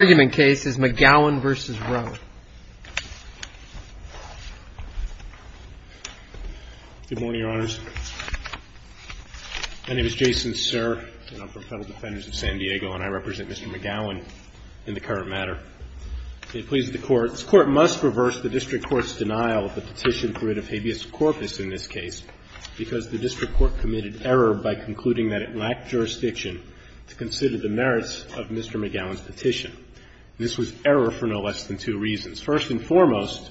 Good morning, Your Honors. My name is Jason Sir, and I'm from Federal Defenders of San Diego, and I represent Mr. McGowan in the current matter. May it please the Court, this Court must reverse the District Court's denial of the petition for writ of habeas corpus in this case, because the District Court committed error by concluding that it lacked jurisdiction to consider the merits of Mr. McGowan's petition. This was error for no less than two reasons. First and foremost,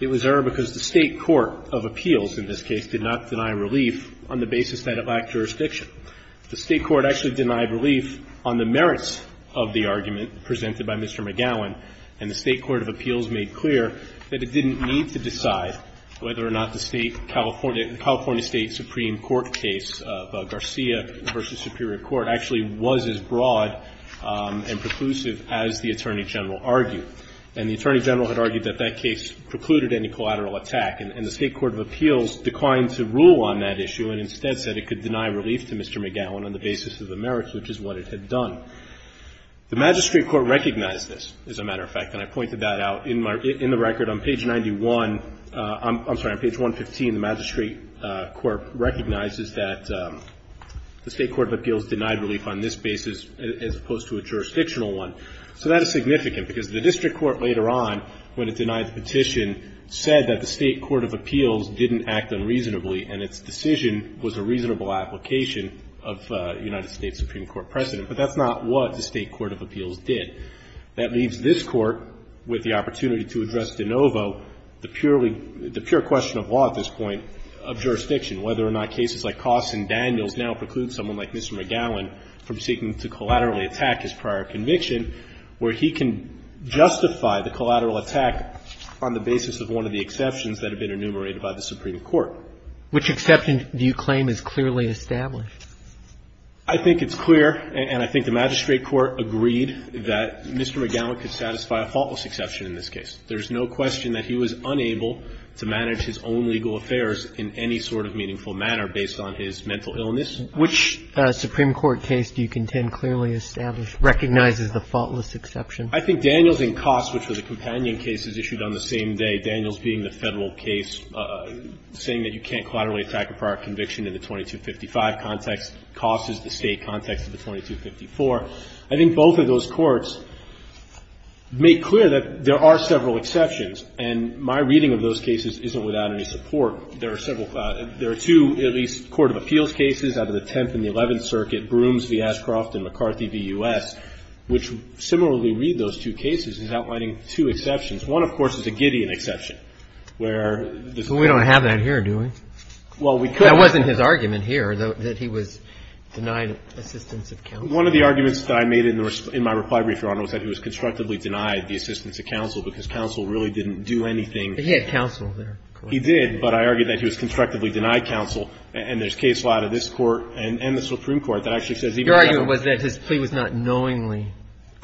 it was error because the State court of appeals in this case did not deny relief on the basis that it lacked jurisdiction. The State court actually denied relief on the merits of the argument presented by Mr. McGowan, and the State court of appeals made clear that it didn't need to decide whether or not the State California State Supreme Court case of Garcia v. Superior Court actually was as broad and preclusive as the Attorney General argued. And the Attorney General had argued that that case precluded any collateral attack, and the State court of appeals declined to rule on that issue and instead said it could deny relief to Mr. McGowan on the basis of the merits, which is what it had done. The magistrate court recognized this, as a matter of fact, and I pointed that out in my – in the record on page 91 – I'm sorry, on page 115, the magistrate court recognizes that the State court of appeals denied relief on this basis as opposed to a jurisdictional one. So that is significant, because the district court later on, when it denied the petition, said that the State court of appeals didn't act unreasonably, and its decision was a reasonable application of United States Supreme Court precedent. But that's not what the State court of appeals did. That leaves this Court, with the opportunity to address de novo, the purely – the pure question of law at this point of jurisdiction, whether or not cases like Costs and Daniels now preclude someone like Mr. McGowan from seeking to collaterally attack his prior conviction, where he can justify the collateral attack on the basis of one of the exceptions that have been enumerated by the Supreme Court. Which exception do you claim is clearly established? I think it's clear, and I think the magistrate court agreed that Mr. McGowan could satisfy a faultless exception in this case. There's no question that he was unable to manage his own legal affairs in any sort of meaningful manner based on his mental illness. Which Supreme Court case do you contend clearly established, recognizes the faultless exception? I think Daniels and Costs, which were the companion cases issued on the same day, Daniels being the Federal case saying that you can't collaterally attack a prior conviction in the 2255 context, Costs is the State context of the 2254. I think both of those courts make clear that there are several exceptions, and my reading of those cases isn't without any support. There are several – there are two, at least, court of appeals cases out of the Tenth and the Eleventh Circuit, Brooms v. Ashcroft and McCarthy v. U.S., which similarly read those two cases, is outlining two exceptions. One, of course, is a Gideon exception, where the Supreme Court said that he was unable to manage his own legal affairs in any sort of meaningful manner based on his mental illness. Well, we don't have that here, do we? Well, we could. That wasn't his argument here, though, that he was denied assistance of counsel. One of the arguments that I made in my reply brief, Your Honor, was that he was constructively denied the assistance of counsel because counsel really didn't do anything. But he had counsel there, correct? He did, but I argued that he was constructively denied counsel. And there's case law to this Court and the Supreme Court that actually says even if he had counsel. Your argument was that his plea was not knowingly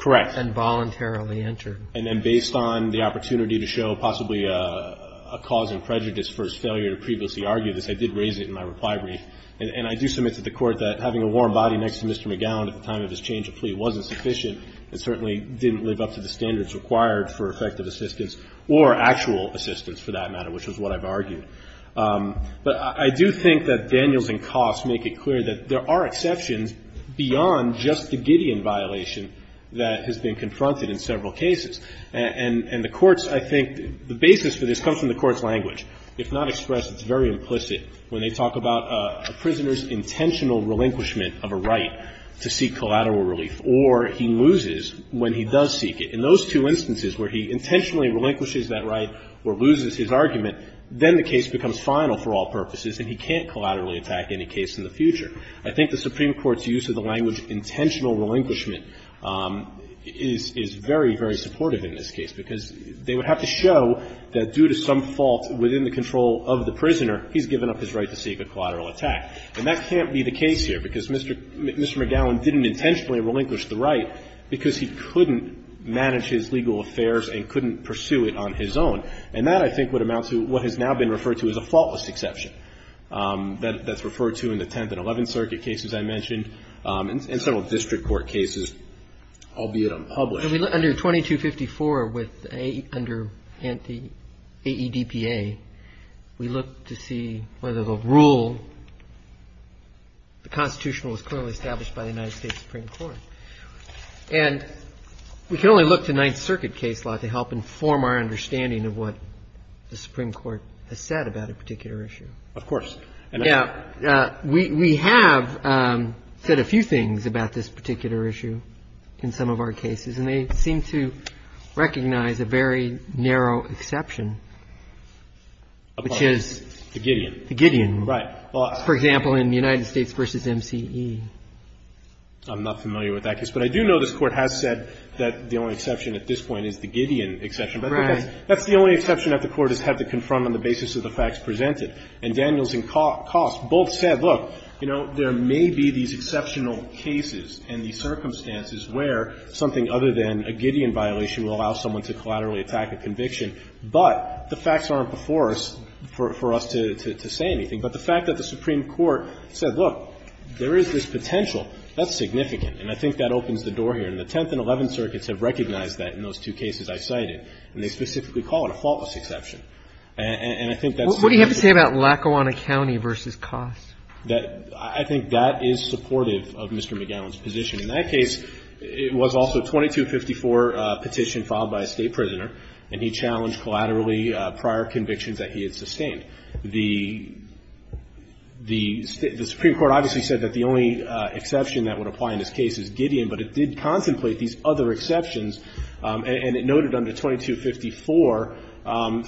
and voluntarily entered. Correct. And then based on the opportunity to show possibly a cause of prejudice for his failure to previously argue this, I did raise it in my reply brief. And I do submit to the Court that having a warm body next to Mr. McGowan at the time of his change of plea wasn't sufficient. It certainly didn't live up to the standards required for effective assistance or actual assistance, for that matter, which is what I've argued. But I do think that Daniels and Coffs make it clear that there are exceptions beyond just the Gideon violation that has been confronted in several cases. And the Court's, I think, the basis for this comes from the Court's language. If not expressed, it's very implicit when they talk about a prisoner's intentional relinquishment of a right to seek collateral relief, or he loses when he does seek it. In those two instances where he intentionally relinquishes that right or loses his argument, then the case becomes final for all purposes and he can't collaterally attack any case in the future. I think the Supreme Court's use of the language intentional relinquishment is very, very supportive in this case, because they would have to show that due to some fault within the control of the prisoner, he's given up his right to seek a collateral attack. And that can't be the case here, because Mr. McGowan didn't intentionally relinquish the right because he couldn't manage his legal affairs and couldn't pursue it on his own. And that, I think, would amount to what has now been referred to as a faultless exception that's referred to in the Tenth and Eleventh Circuit cases I mentioned and several district court cases, albeit unpublished. Under 2254, under AEDPA, we look to see whether the rule, the Constitution was clearly established by the United States Supreme Court. And we can only look to Ninth Circuit case law to help inform our understanding of what the Supreme Court has said about a particular issue. Of course. Now, we have said a few things about this particular issue in some of our cases, and they seem to recognize a very narrow exception, which is the Gideon. Right. For example, in the United States v. MCE. I'm not familiar with that case. But I do know this Court has said that the only exception at this point is the Gideon exception. Right. But that's the only exception that the Court has had to confront on the basis of the facts presented. And Daniels and Cost both said, look, you know, there may be these exceptional cases and these circumstances where something other than a Gideon violation will allow someone to collaterally attack a conviction, but the facts aren't before us for us to say anything. But the fact that the Supreme Court said, look, there is this potential, that's significant. And I think that opens the door here. And the Tenth and Eleventh Circuits have recognized that in those two cases I cited. And they specifically call it a faultless exception. And I think that's significant. What do you have to say about Lackawanna County v. Cost? That I think that is supportive of Mr. McGowan's position. In that case, it was also a 2254 petition filed by a State prisoner. And he challenged collaterally prior convictions that he had sustained. The Supreme Court obviously said that the only exception that would apply in this case is Gideon. But it did contemplate these other exceptions. And it noted under 2254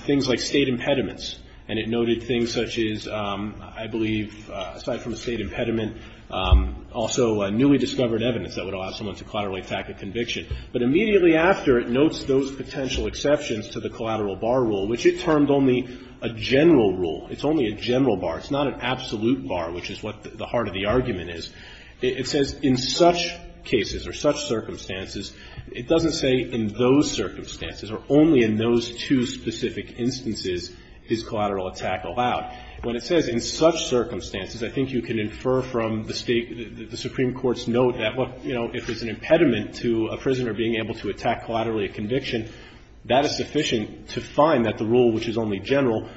things like State impediments. And it noted things such as, I believe, aside from a State impediment, also newly discovered evidence that would allow someone to collaterally attack a conviction. But immediately after, it notes those potential exceptions to the collateral bar rule, which it termed only a general rule. It's only a general bar. It's not an absolute bar, which is what the heart of the argument is. It says in such cases or such circumstances, it doesn't say in those circumstances or only in those two specific instances is collateral attack allowed. When it says in such circumstances, I think you can infer from the State, the Supreme Court's note that what, you know, if it's an impediment to a prisoner being able to attack collaterally a conviction, that is sufficient to find that the rule, which is only general,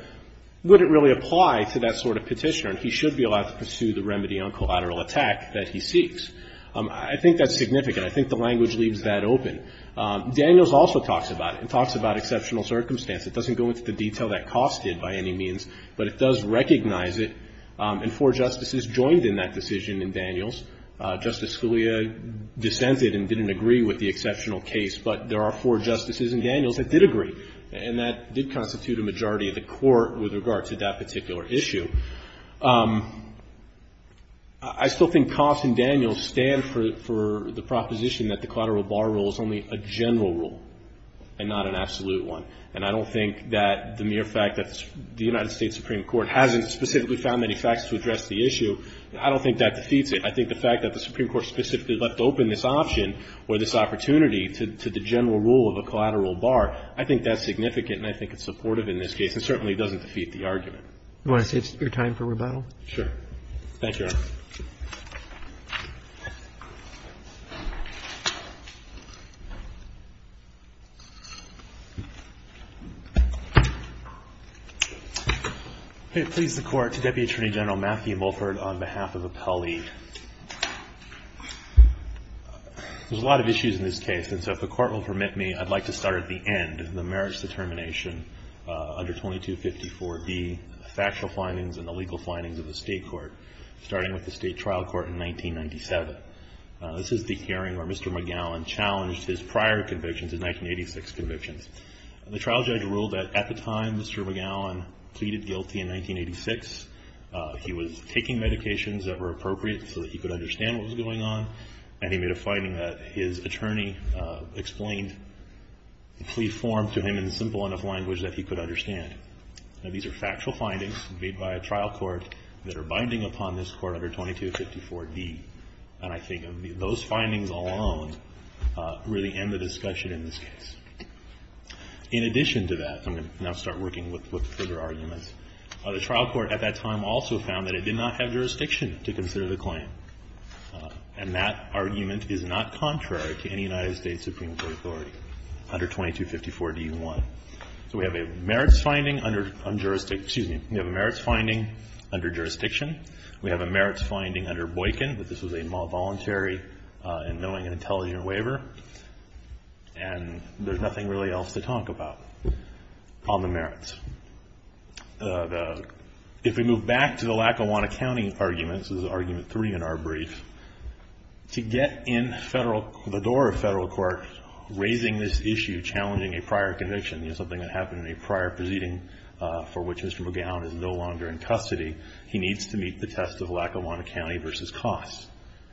would it really apply to that sort of petitioner? And he should be allowed to pursue the remedy on collateral attack that he seeks. I think that's significant. I think the language leaves that open. Daniels also talks about it and talks about exceptional circumstance. It doesn't go into the detail that Coffs did by any means, but it does recognize it, and four justices joined in that decision in Daniels. Justice Scalia dissented and didn't agree with the exceptional case, but there are four justices in Daniels that did agree, and that did constitute a majority of the Court with regard to that particular issue. I still think Coffs and Daniels stand for the proposition that the collateral bar rule is only a general rule and not an absolute one. And I don't think that the mere fact that the United States Supreme Court hasn't specifically found any facts to address the issue, I don't think that defeats it. I think the fact that the Supreme Court specifically left open this option or this opportunity to the general rule of a collateral bar, I think that's significant and I think it's supportive in this case and certainly doesn't defeat the argument. Do you want to take your time for rebuttal? Sure. Thank you, Your Honor. If it pleases the Court, to Deputy Attorney General Matthew Mulford on behalf of Appellee. There's a lot of issues in this case, and so if the Court will permit me, I'd like to start at the end, the merits determination under 2254B, the factual findings and legal findings of the State Court, starting with the State Trial Court in 1997. This is the hearing where Mr. McGowan challenged his prior convictions, his 1986 convictions. The trial judge ruled that at the time Mr. McGowan pleaded guilty in 1986, he was taking medications that were appropriate so that he could understand what was going on, and he made a finding that his attorney explained the plea form to him in simple enough language that he could understand. Now, these are factual findings made by a trial court that are binding upon this court under 2254D, and I think those findings alone really end the discussion in this case. In addition to that, I'm going to now start working with further arguments. The trial court at that time also found that it did not have jurisdiction to consider the claim, and that argument is not contrary to any United States Supreme Court authority under 2254D-1. So we have a merits finding under jurisdiction. We have a merits finding under Boykin, but this was a voluntary and knowing and intelligent waiver, and there's nothing really else to talk about on the merits. If we move back to the Lackawanna County arguments, this is argument three in our brief, to get in the door of federal court raising this issue, challenging a prior conviction, you know, something that happened in a prior proceeding for which Mr. McGowan is no longer in custody. He needs to meet the test of Lackawanna County versus Cost,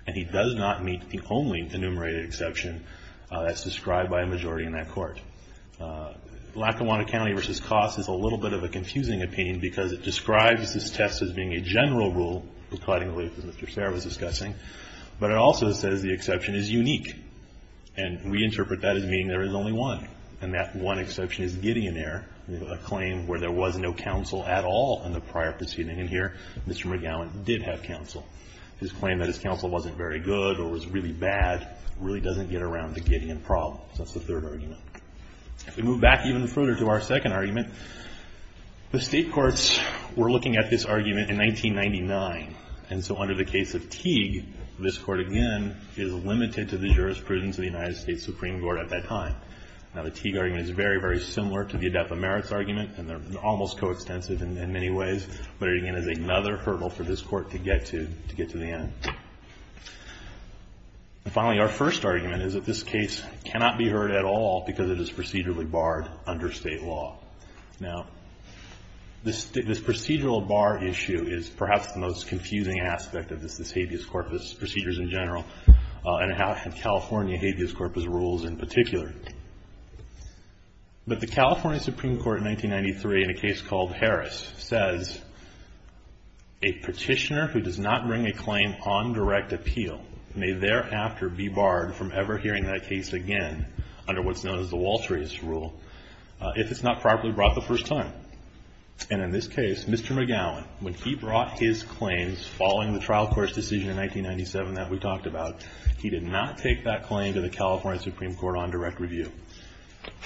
and he does not meet the only enumerated exception that's described by a majority in that court. Lackawanna County versus Cost is a little bit of a confusing opinion because it describes this test as being a general rule, as Mr. Serra was discussing, but it also says the exception is unique, and we interpret that as meaning there is only one, and that one exception is Gideon there, a claim where there was no counsel at all in the prior proceeding, and here Mr. McGowan did have counsel. His claim that his counsel wasn't very good or was really bad really doesn't get around the Gideon problem, so that's the third argument. If we move back even further to our second argument, the state courts were looking at this argument in 1999, and so under the case of Teague, this court again is Now, the Teague argument is very, very similar to the Adepa merits argument, and they're almost coextensive in many ways, but it again is another hurdle for this court to get to the end. And finally, our first argument is that this case cannot be heard at all because it is procedurally barred under state law. Now, this procedural bar issue is perhaps the most confusing aspect of this habeas corpus, procedures in general, and California habeas corpus rules in particular, but the California Supreme Court in 1993, in a case called Harris, says a petitioner who does not bring a claim on direct appeal may thereafter be barred from ever hearing that case again under what's known as the Walterius rule if it's not properly brought the first time. And in this case, Mr. McGowan, when he brought his claims following the trial court's decision in 1997 that we talked about, he did not take that claim to the California Supreme Court on direct review.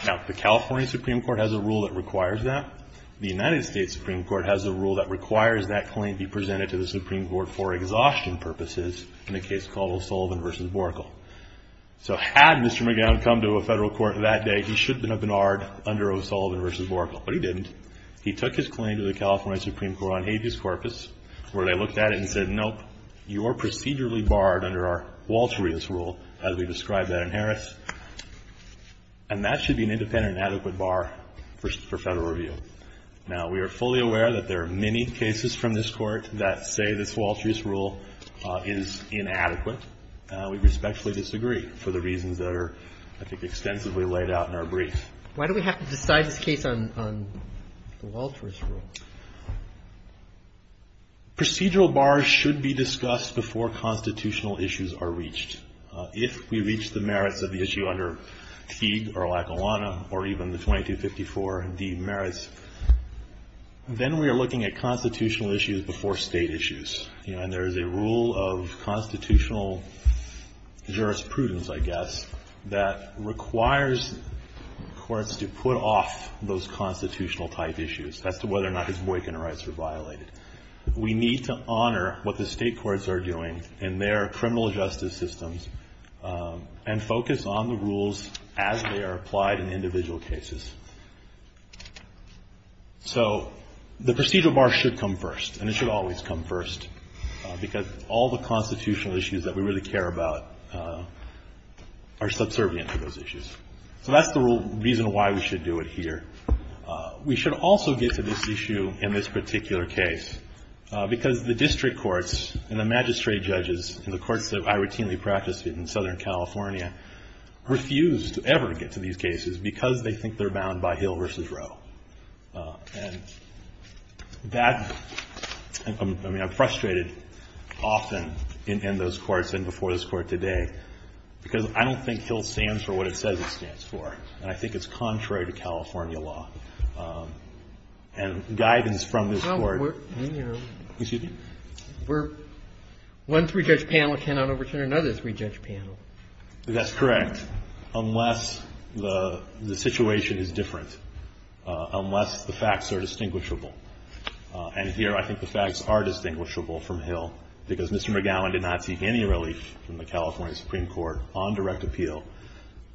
Now, the California Supreme Court has a rule that requires that. The United States Supreme Court has a rule that requires that claim be presented to the Supreme Court for exhaustion purposes in a case called O'Sullivan v. Borkle. So had Mr. McGowan come to a Federal court that day, he should have been barred under O'Sullivan v. Borkle, but he didn't. He took his claim to the California Supreme Court on habeas corpus where they looked at it and said, nope, you're procedurally barred under our Walterius rule, as we said. And that should be an independent and adequate bar for Federal review. Now, we are fully aware that there are many cases from this Court that say this Walterius rule is inadequate. We respectfully disagree for the reasons that are, I think, extensively laid out in our brief. Why do we have to decide this case on the Walterius rule? Procedural bars should be discussed before constitutional issues are reached. If we reach the merits of the issue under Teague or Lackawanna or even the 2254 demerits, then we are looking at constitutional issues before state issues. You know, and there is a rule of constitutional jurisprudence, I guess, that requires courts to put off those constitutional type issues as to whether or not his boycott rights are violated. We need to honor what the state courts are doing in their criminal justice systems and focus on the rules as they are applied in individual cases. So the procedural bar should come first, and it should always come first, because all the constitutional issues that we really care about are subservient to those issues. So that's the reason why we should do it here. We should also get to this issue in this particular case, because the district courts and the magistrate judges and the courts that I routinely practice in Southern California refuse to ever get to these cases because they think they're bound by Hill v. Roe. And that, I mean, I'm frustrated often in those courts and before this Court today because I don't think Hill stands for what it says it stands for, and I think it's contrary to California law. And guidance from this Court. Excuse me? We're one three-judge panel cannot overturn another three-judge panel. That's correct, unless the situation is different, unless the facts are distinguishable. And here I think the facts are distinguishable from Hill because Mr. McGowan did not seek any relief from the California Supreme Court on direct appeal,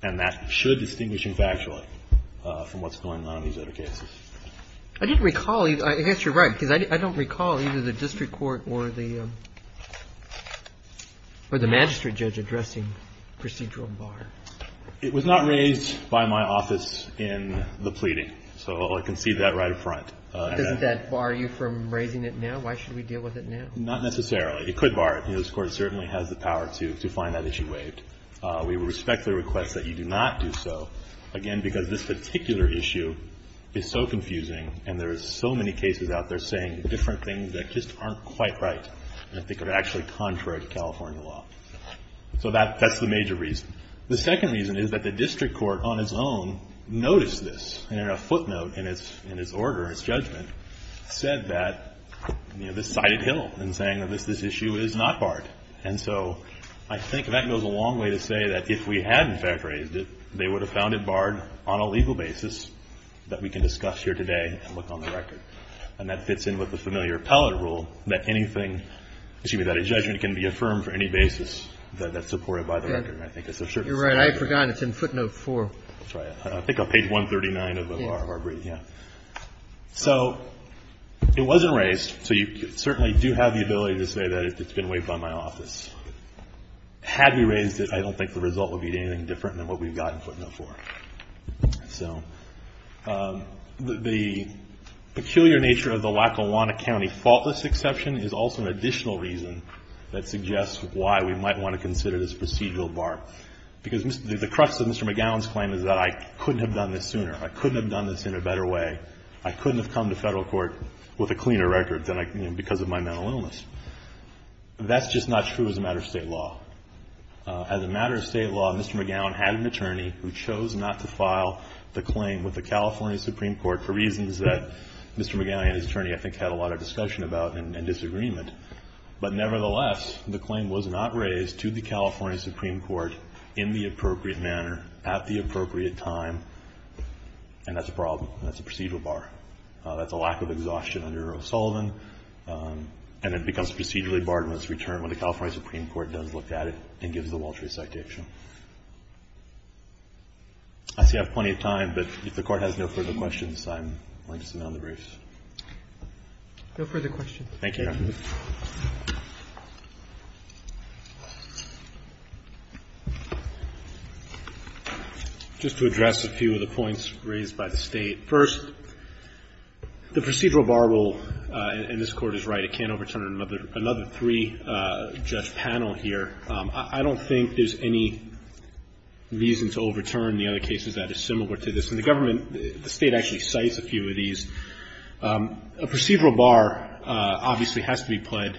and that should be distinguishing factually from what's going on in these other cases. I didn't recall, I guess you're right, because I don't recall either the district court or the magistrate judge addressing procedural bar. It was not raised by my office in the pleading. So I can see that right up front. Does that bar you from raising it now? Why should we deal with it now? Not necessarily. It could bar it. This Court certainly has the power to find that issue waived. We respect the request that you do not do so, again, because this particular issue is so confusing, and there are so many cases out there saying different things that just aren't quite right, and I think are actually contrary to California law. So that's the major reason. The second reason is that the district court on its own noticed this, and in a footnote in its order, its judgment, said that this cited Hill in saying that this issue is not barred. And so I think that goes a long way to say that if we had in fact raised it, they would have found it barred on a legal basis that we can discuss here today and look on the record. And that fits in with the familiar appellate rule that anything, excuse me, that a judgment can be affirmed for any basis that's supported by the record. You're right. I forgot. It's in footnote four. That's right. I think on page 139 of our brief, yeah. So it wasn't raised, so you certainly do have the ability to say that it's been approved by my office. Had we raised it, I don't think the result would be anything different than what we've got in footnote four. So the peculiar nature of the Lackawanna County faultless exception is also an additional reason that suggests why we might want to consider this procedural bar because the crux of Mr. McGowan's claim is that I couldn't have done this sooner. I couldn't have done this in a better way. I couldn't have come to federal court with a cleaner record because of my mental illness. That's just not true as a matter of state law. As a matter of state law, Mr. McGowan had an attorney who chose not to file the claim with the California Supreme Court for reasons that Mr. McGowan and his attorney, I think, had a lot of discussion about and disagreement. But nevertheless, the claim was not raised to the California Supreme Court in the appropriate manner at the appropriate time, and that's a problem. That's a procedural bar. That's a lack of exhaustion under O'Sullivan, and it becomes procedurally barred in its return when the California Supreme Court does look at it and gives the Waltree citation. I see I have plenty of time, but if the Court has no further questions, I'm willing to sit down on the briefs. No further questions. Thank you. Just to address a few of the points raised by the State. First, the procedural bar will, and this Court is right, it can't overturn another three-judge panel here. I don't think there's any reason to overturn the other cases that are similar to this. In the government, the State actually cites a few of these. It has to be in place. It has to be in place. It has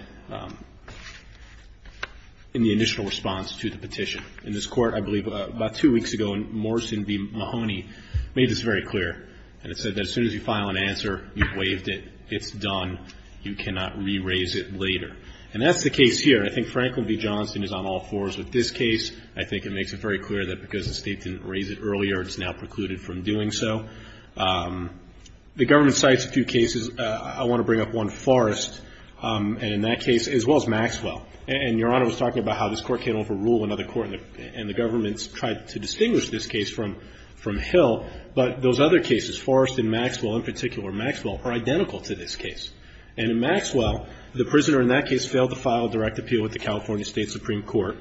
to be pled in the initial response to the petition. In this Court, I believe about two weeks ago, Morrison v. Mahoney made this very clear, and it said that as soon as you file an answer, you've waived it. It's done. You cannot re-raise it later, and that's the case here. I think Franklin v. Johnston is on all fours with this case. I think it makes it very clear that because the State didn't raise it earlier, it's now precluded from doing so. The government cites a few cases. I want to bring up one, Forrest, and in that case, as well as Maxwell. And Your Honor was talking about how this Court can't overrule another court, and the government's tried to distinguish this case from Hill. But those other cases, Forrest and Maxwell in particular, Maxwell are identical to this case. And in Maxwell, the prisoner in that case failed to file a direct appeal with the California State Supreme Court.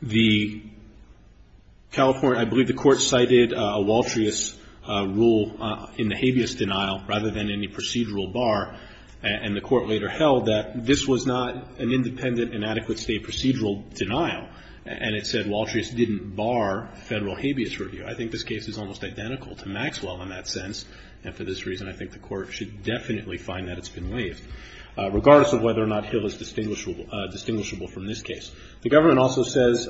The California, I believe the Court cited a Waltrius rule in the habeas denial rather than any procedural bar. And the Court later held that this was not an independent and adequate state procedural denial. And it said Waltrius didn't bar federal habeas review. I think this case is almost identical to Maxwell in that sense. And for this reason, I think the Court should definitely find that it's been waived, regardless of whether or not Hill is distinguishable from this case. The government also says,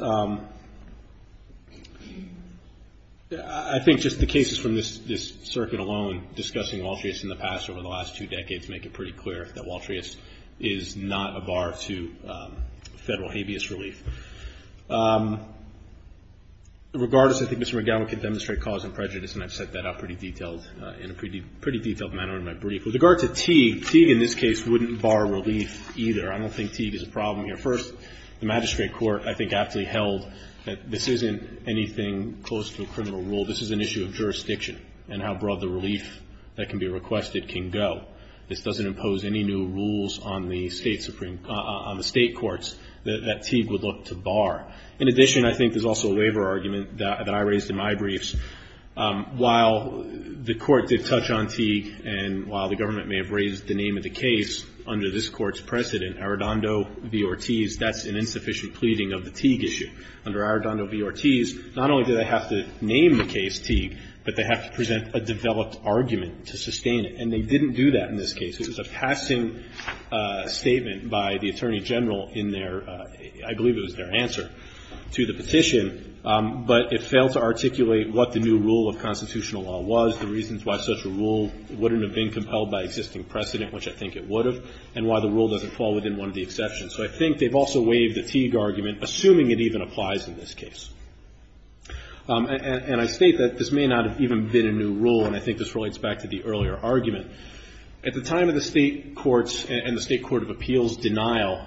I think just the cases from this circuit alone, discussing Waltrius in the past over the last two decades, make it pretty clear that Waltrius is not a bar to federal habeas relief. Regardless, I think Mr. McGowan can demonstrate cause and prejudice, and I've set that up pretty detailed in a pretty detailed manner in my brief. With regard to Teague, Teague in this case wouldn't bar relief either. I don't think Teague is a problem here. First, the magistrate court, I think, aptly held that this isn't anything close to a criminal rule. This is an issue of jurisdiction and how broad the relief that can be requested can go. This doesn't impose any new rules on the state courts that Teague would look to bar. In addition, I think there's also a labor argument that I raised in my briefs. While the Court did touch on Teague, and while the government may have raised the name of the case under this Court's precedent, Arredondo v. Ortiz, that's an insufficient pleading of the Teague issue. Under Arredondo v. Ortiz, not only do they have to name the case Teague, but they have to present a developed argument to sustain it. And they didn't do that in this case. It was a passing statement by the Attorney General in their, I believe it was their answer to the petition. But it failed to articulate what the new rule of constitutional law was, the reasons why such a rule wouldn't have been compelled by existing precedent, which I think it would have, and why the rule doesn't fall within one of the exceptions. So I think they've also waived the Teague argument, assuming it even applies in this case. And I state that this may not have even been a new rule, and I think this relates back to the earlier argument. At the time of the state courts and the state court of appeals denial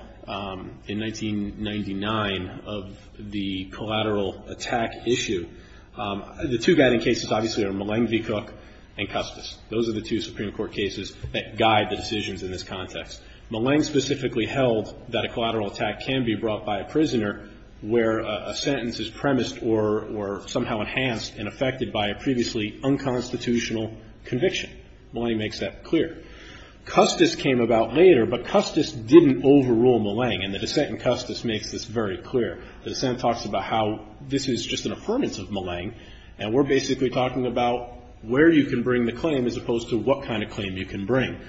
in 1999 of the collateral attack issue, the two guiding cases obviously are Milleng v. Cook and Custis. Those are the two Supreme Court cases that guide the decisions in this context. Milleng specifically held that a collateral attack can be brought by a prisoner where a sentence is premised or somehow enhanced and affected by a previously unconstitutional conviction. Milleng makes that clear. Custis came about later, but Custis didn't overrule Milleng, and the dissent in Custis makes this very clear. The dissent talks about how this is just an affirmance of Milleng, and we're basically talking about where you can bring the claim as opposed to what kind of claim you can bring.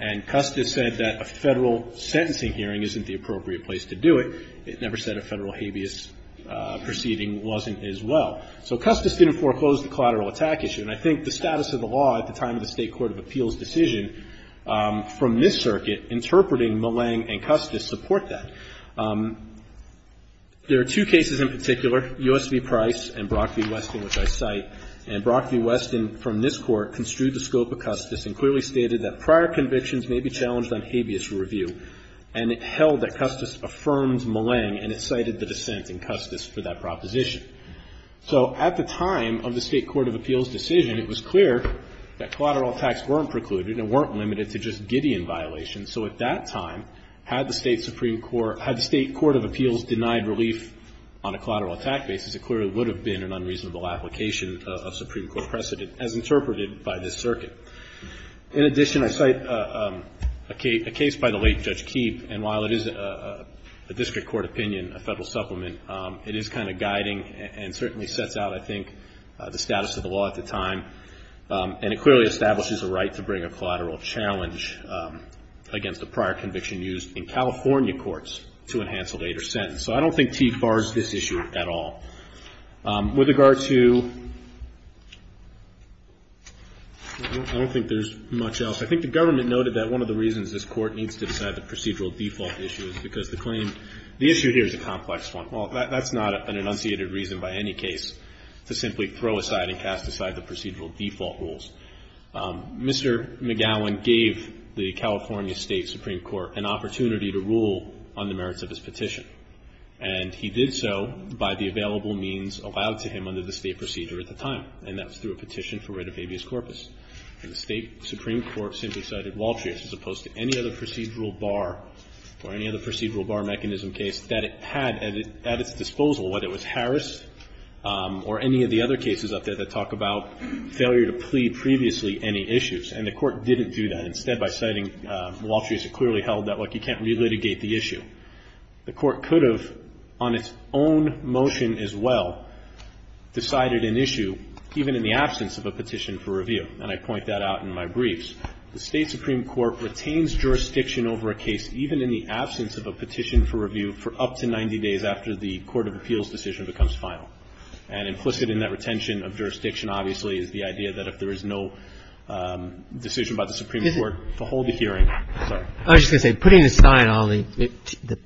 And Custis said that a Federal sentencing hearing isn't the appropriate place to do it. It never said a Federal habeas proceeding wasn't as well. So Custis didn't foreclose the collateral attack issue, and I think the status of the law at the time of the state court of appeals decision from this circuit interpreting Milleng and Custis support that. There are two cases in particular, U.S. v. Price and Brock v. Weston, which I cite. And Brock v. Weston from this Court construed the scope of Custis and clearly stated that prior convictions may be challenged on habeas review, and it held that Custis affirmed Milleng, and it cited the dissent in Custis for that proposition. So at the time of the state court of appeals decision, it was clear that collateral attacks weren't precluded and weren't limited to just Gideon violations. So at that time, had the state Supreme Court, had the state court of appeals denied relief on a collateral attack basis, it clearly would have been an unreasonable application of Supreme Court precedent as interpreted by this circuit. In addition, I cite a case by the late Judge Keefe, and while it is a district court opinion, a federal supplement, it is kind of guiding and certainly sets out, I think, the status of the law at the time. And it clearly establishes a right to bring a collateral challenge against a prior conviction used in California courts to enhance a later sentence. So I don't think Keefe bars this issue at all. With regard to, I don't think there's much else. I think the government noted that one of the reasons this court needs to decide the procedural default issue is because the claim, the issue here is a complex one. Well, that's not an enunciated reason by any case to simply throw aside and cast aside the procedural default rules. Mr. McGowan gave the California State Supreme Court an opportunity to rule on the merits of his petition. And he did so by the available means allowed to him under the State procedure at the time. And that was through a petition for writ of habeas corpus. And the State Supreme Court simply cited Waltrius as opposed to any other procedural bar or any other procedural bar mechanism case that it had at its disposal, whether it was Harris or any of the other cases up there that talk about failure to plea previously any issues. And the Court didn't do that. Instead, by citing Waltrius, it clearly held that, like, you can't relitigate the issue. The Court could have on its own motion as well decided an issue even in the absence of a petition for review. And I point that out in my briefs. The State Supreme Court retains jurisdiction over a case even in the absence of a petition for review for up to 90 days after the court of appeals decision becomes final. And implicit in that retention of jurisdiction, obviously, is the idea that if there is no decision by the Supreme Court to hold the hearing. Sorry. I was just going to say, putting aside all the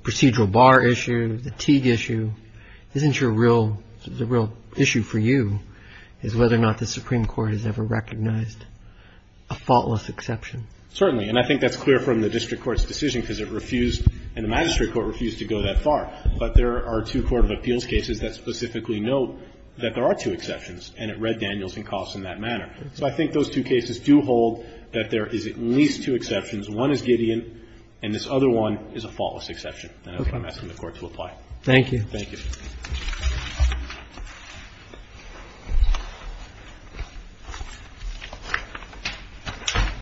procedural bar issue, the Teague issue, isn't your real, the real issue for you is whether or not the Supreme Court has ever recognized a faultless exception? Certainly. And I think that's clear from the district court's decision because it refused and the magistrate court refused to go that far. But there are two court of appeals cases that specifically note that there are two exceptions. And it read Danielson Coffs in that manner. So I think those two cases do hold that there is at least two exceptions. One is Gideon and this other one is a faultless exception. Okay. And I'm asking the court to apply. Thank you.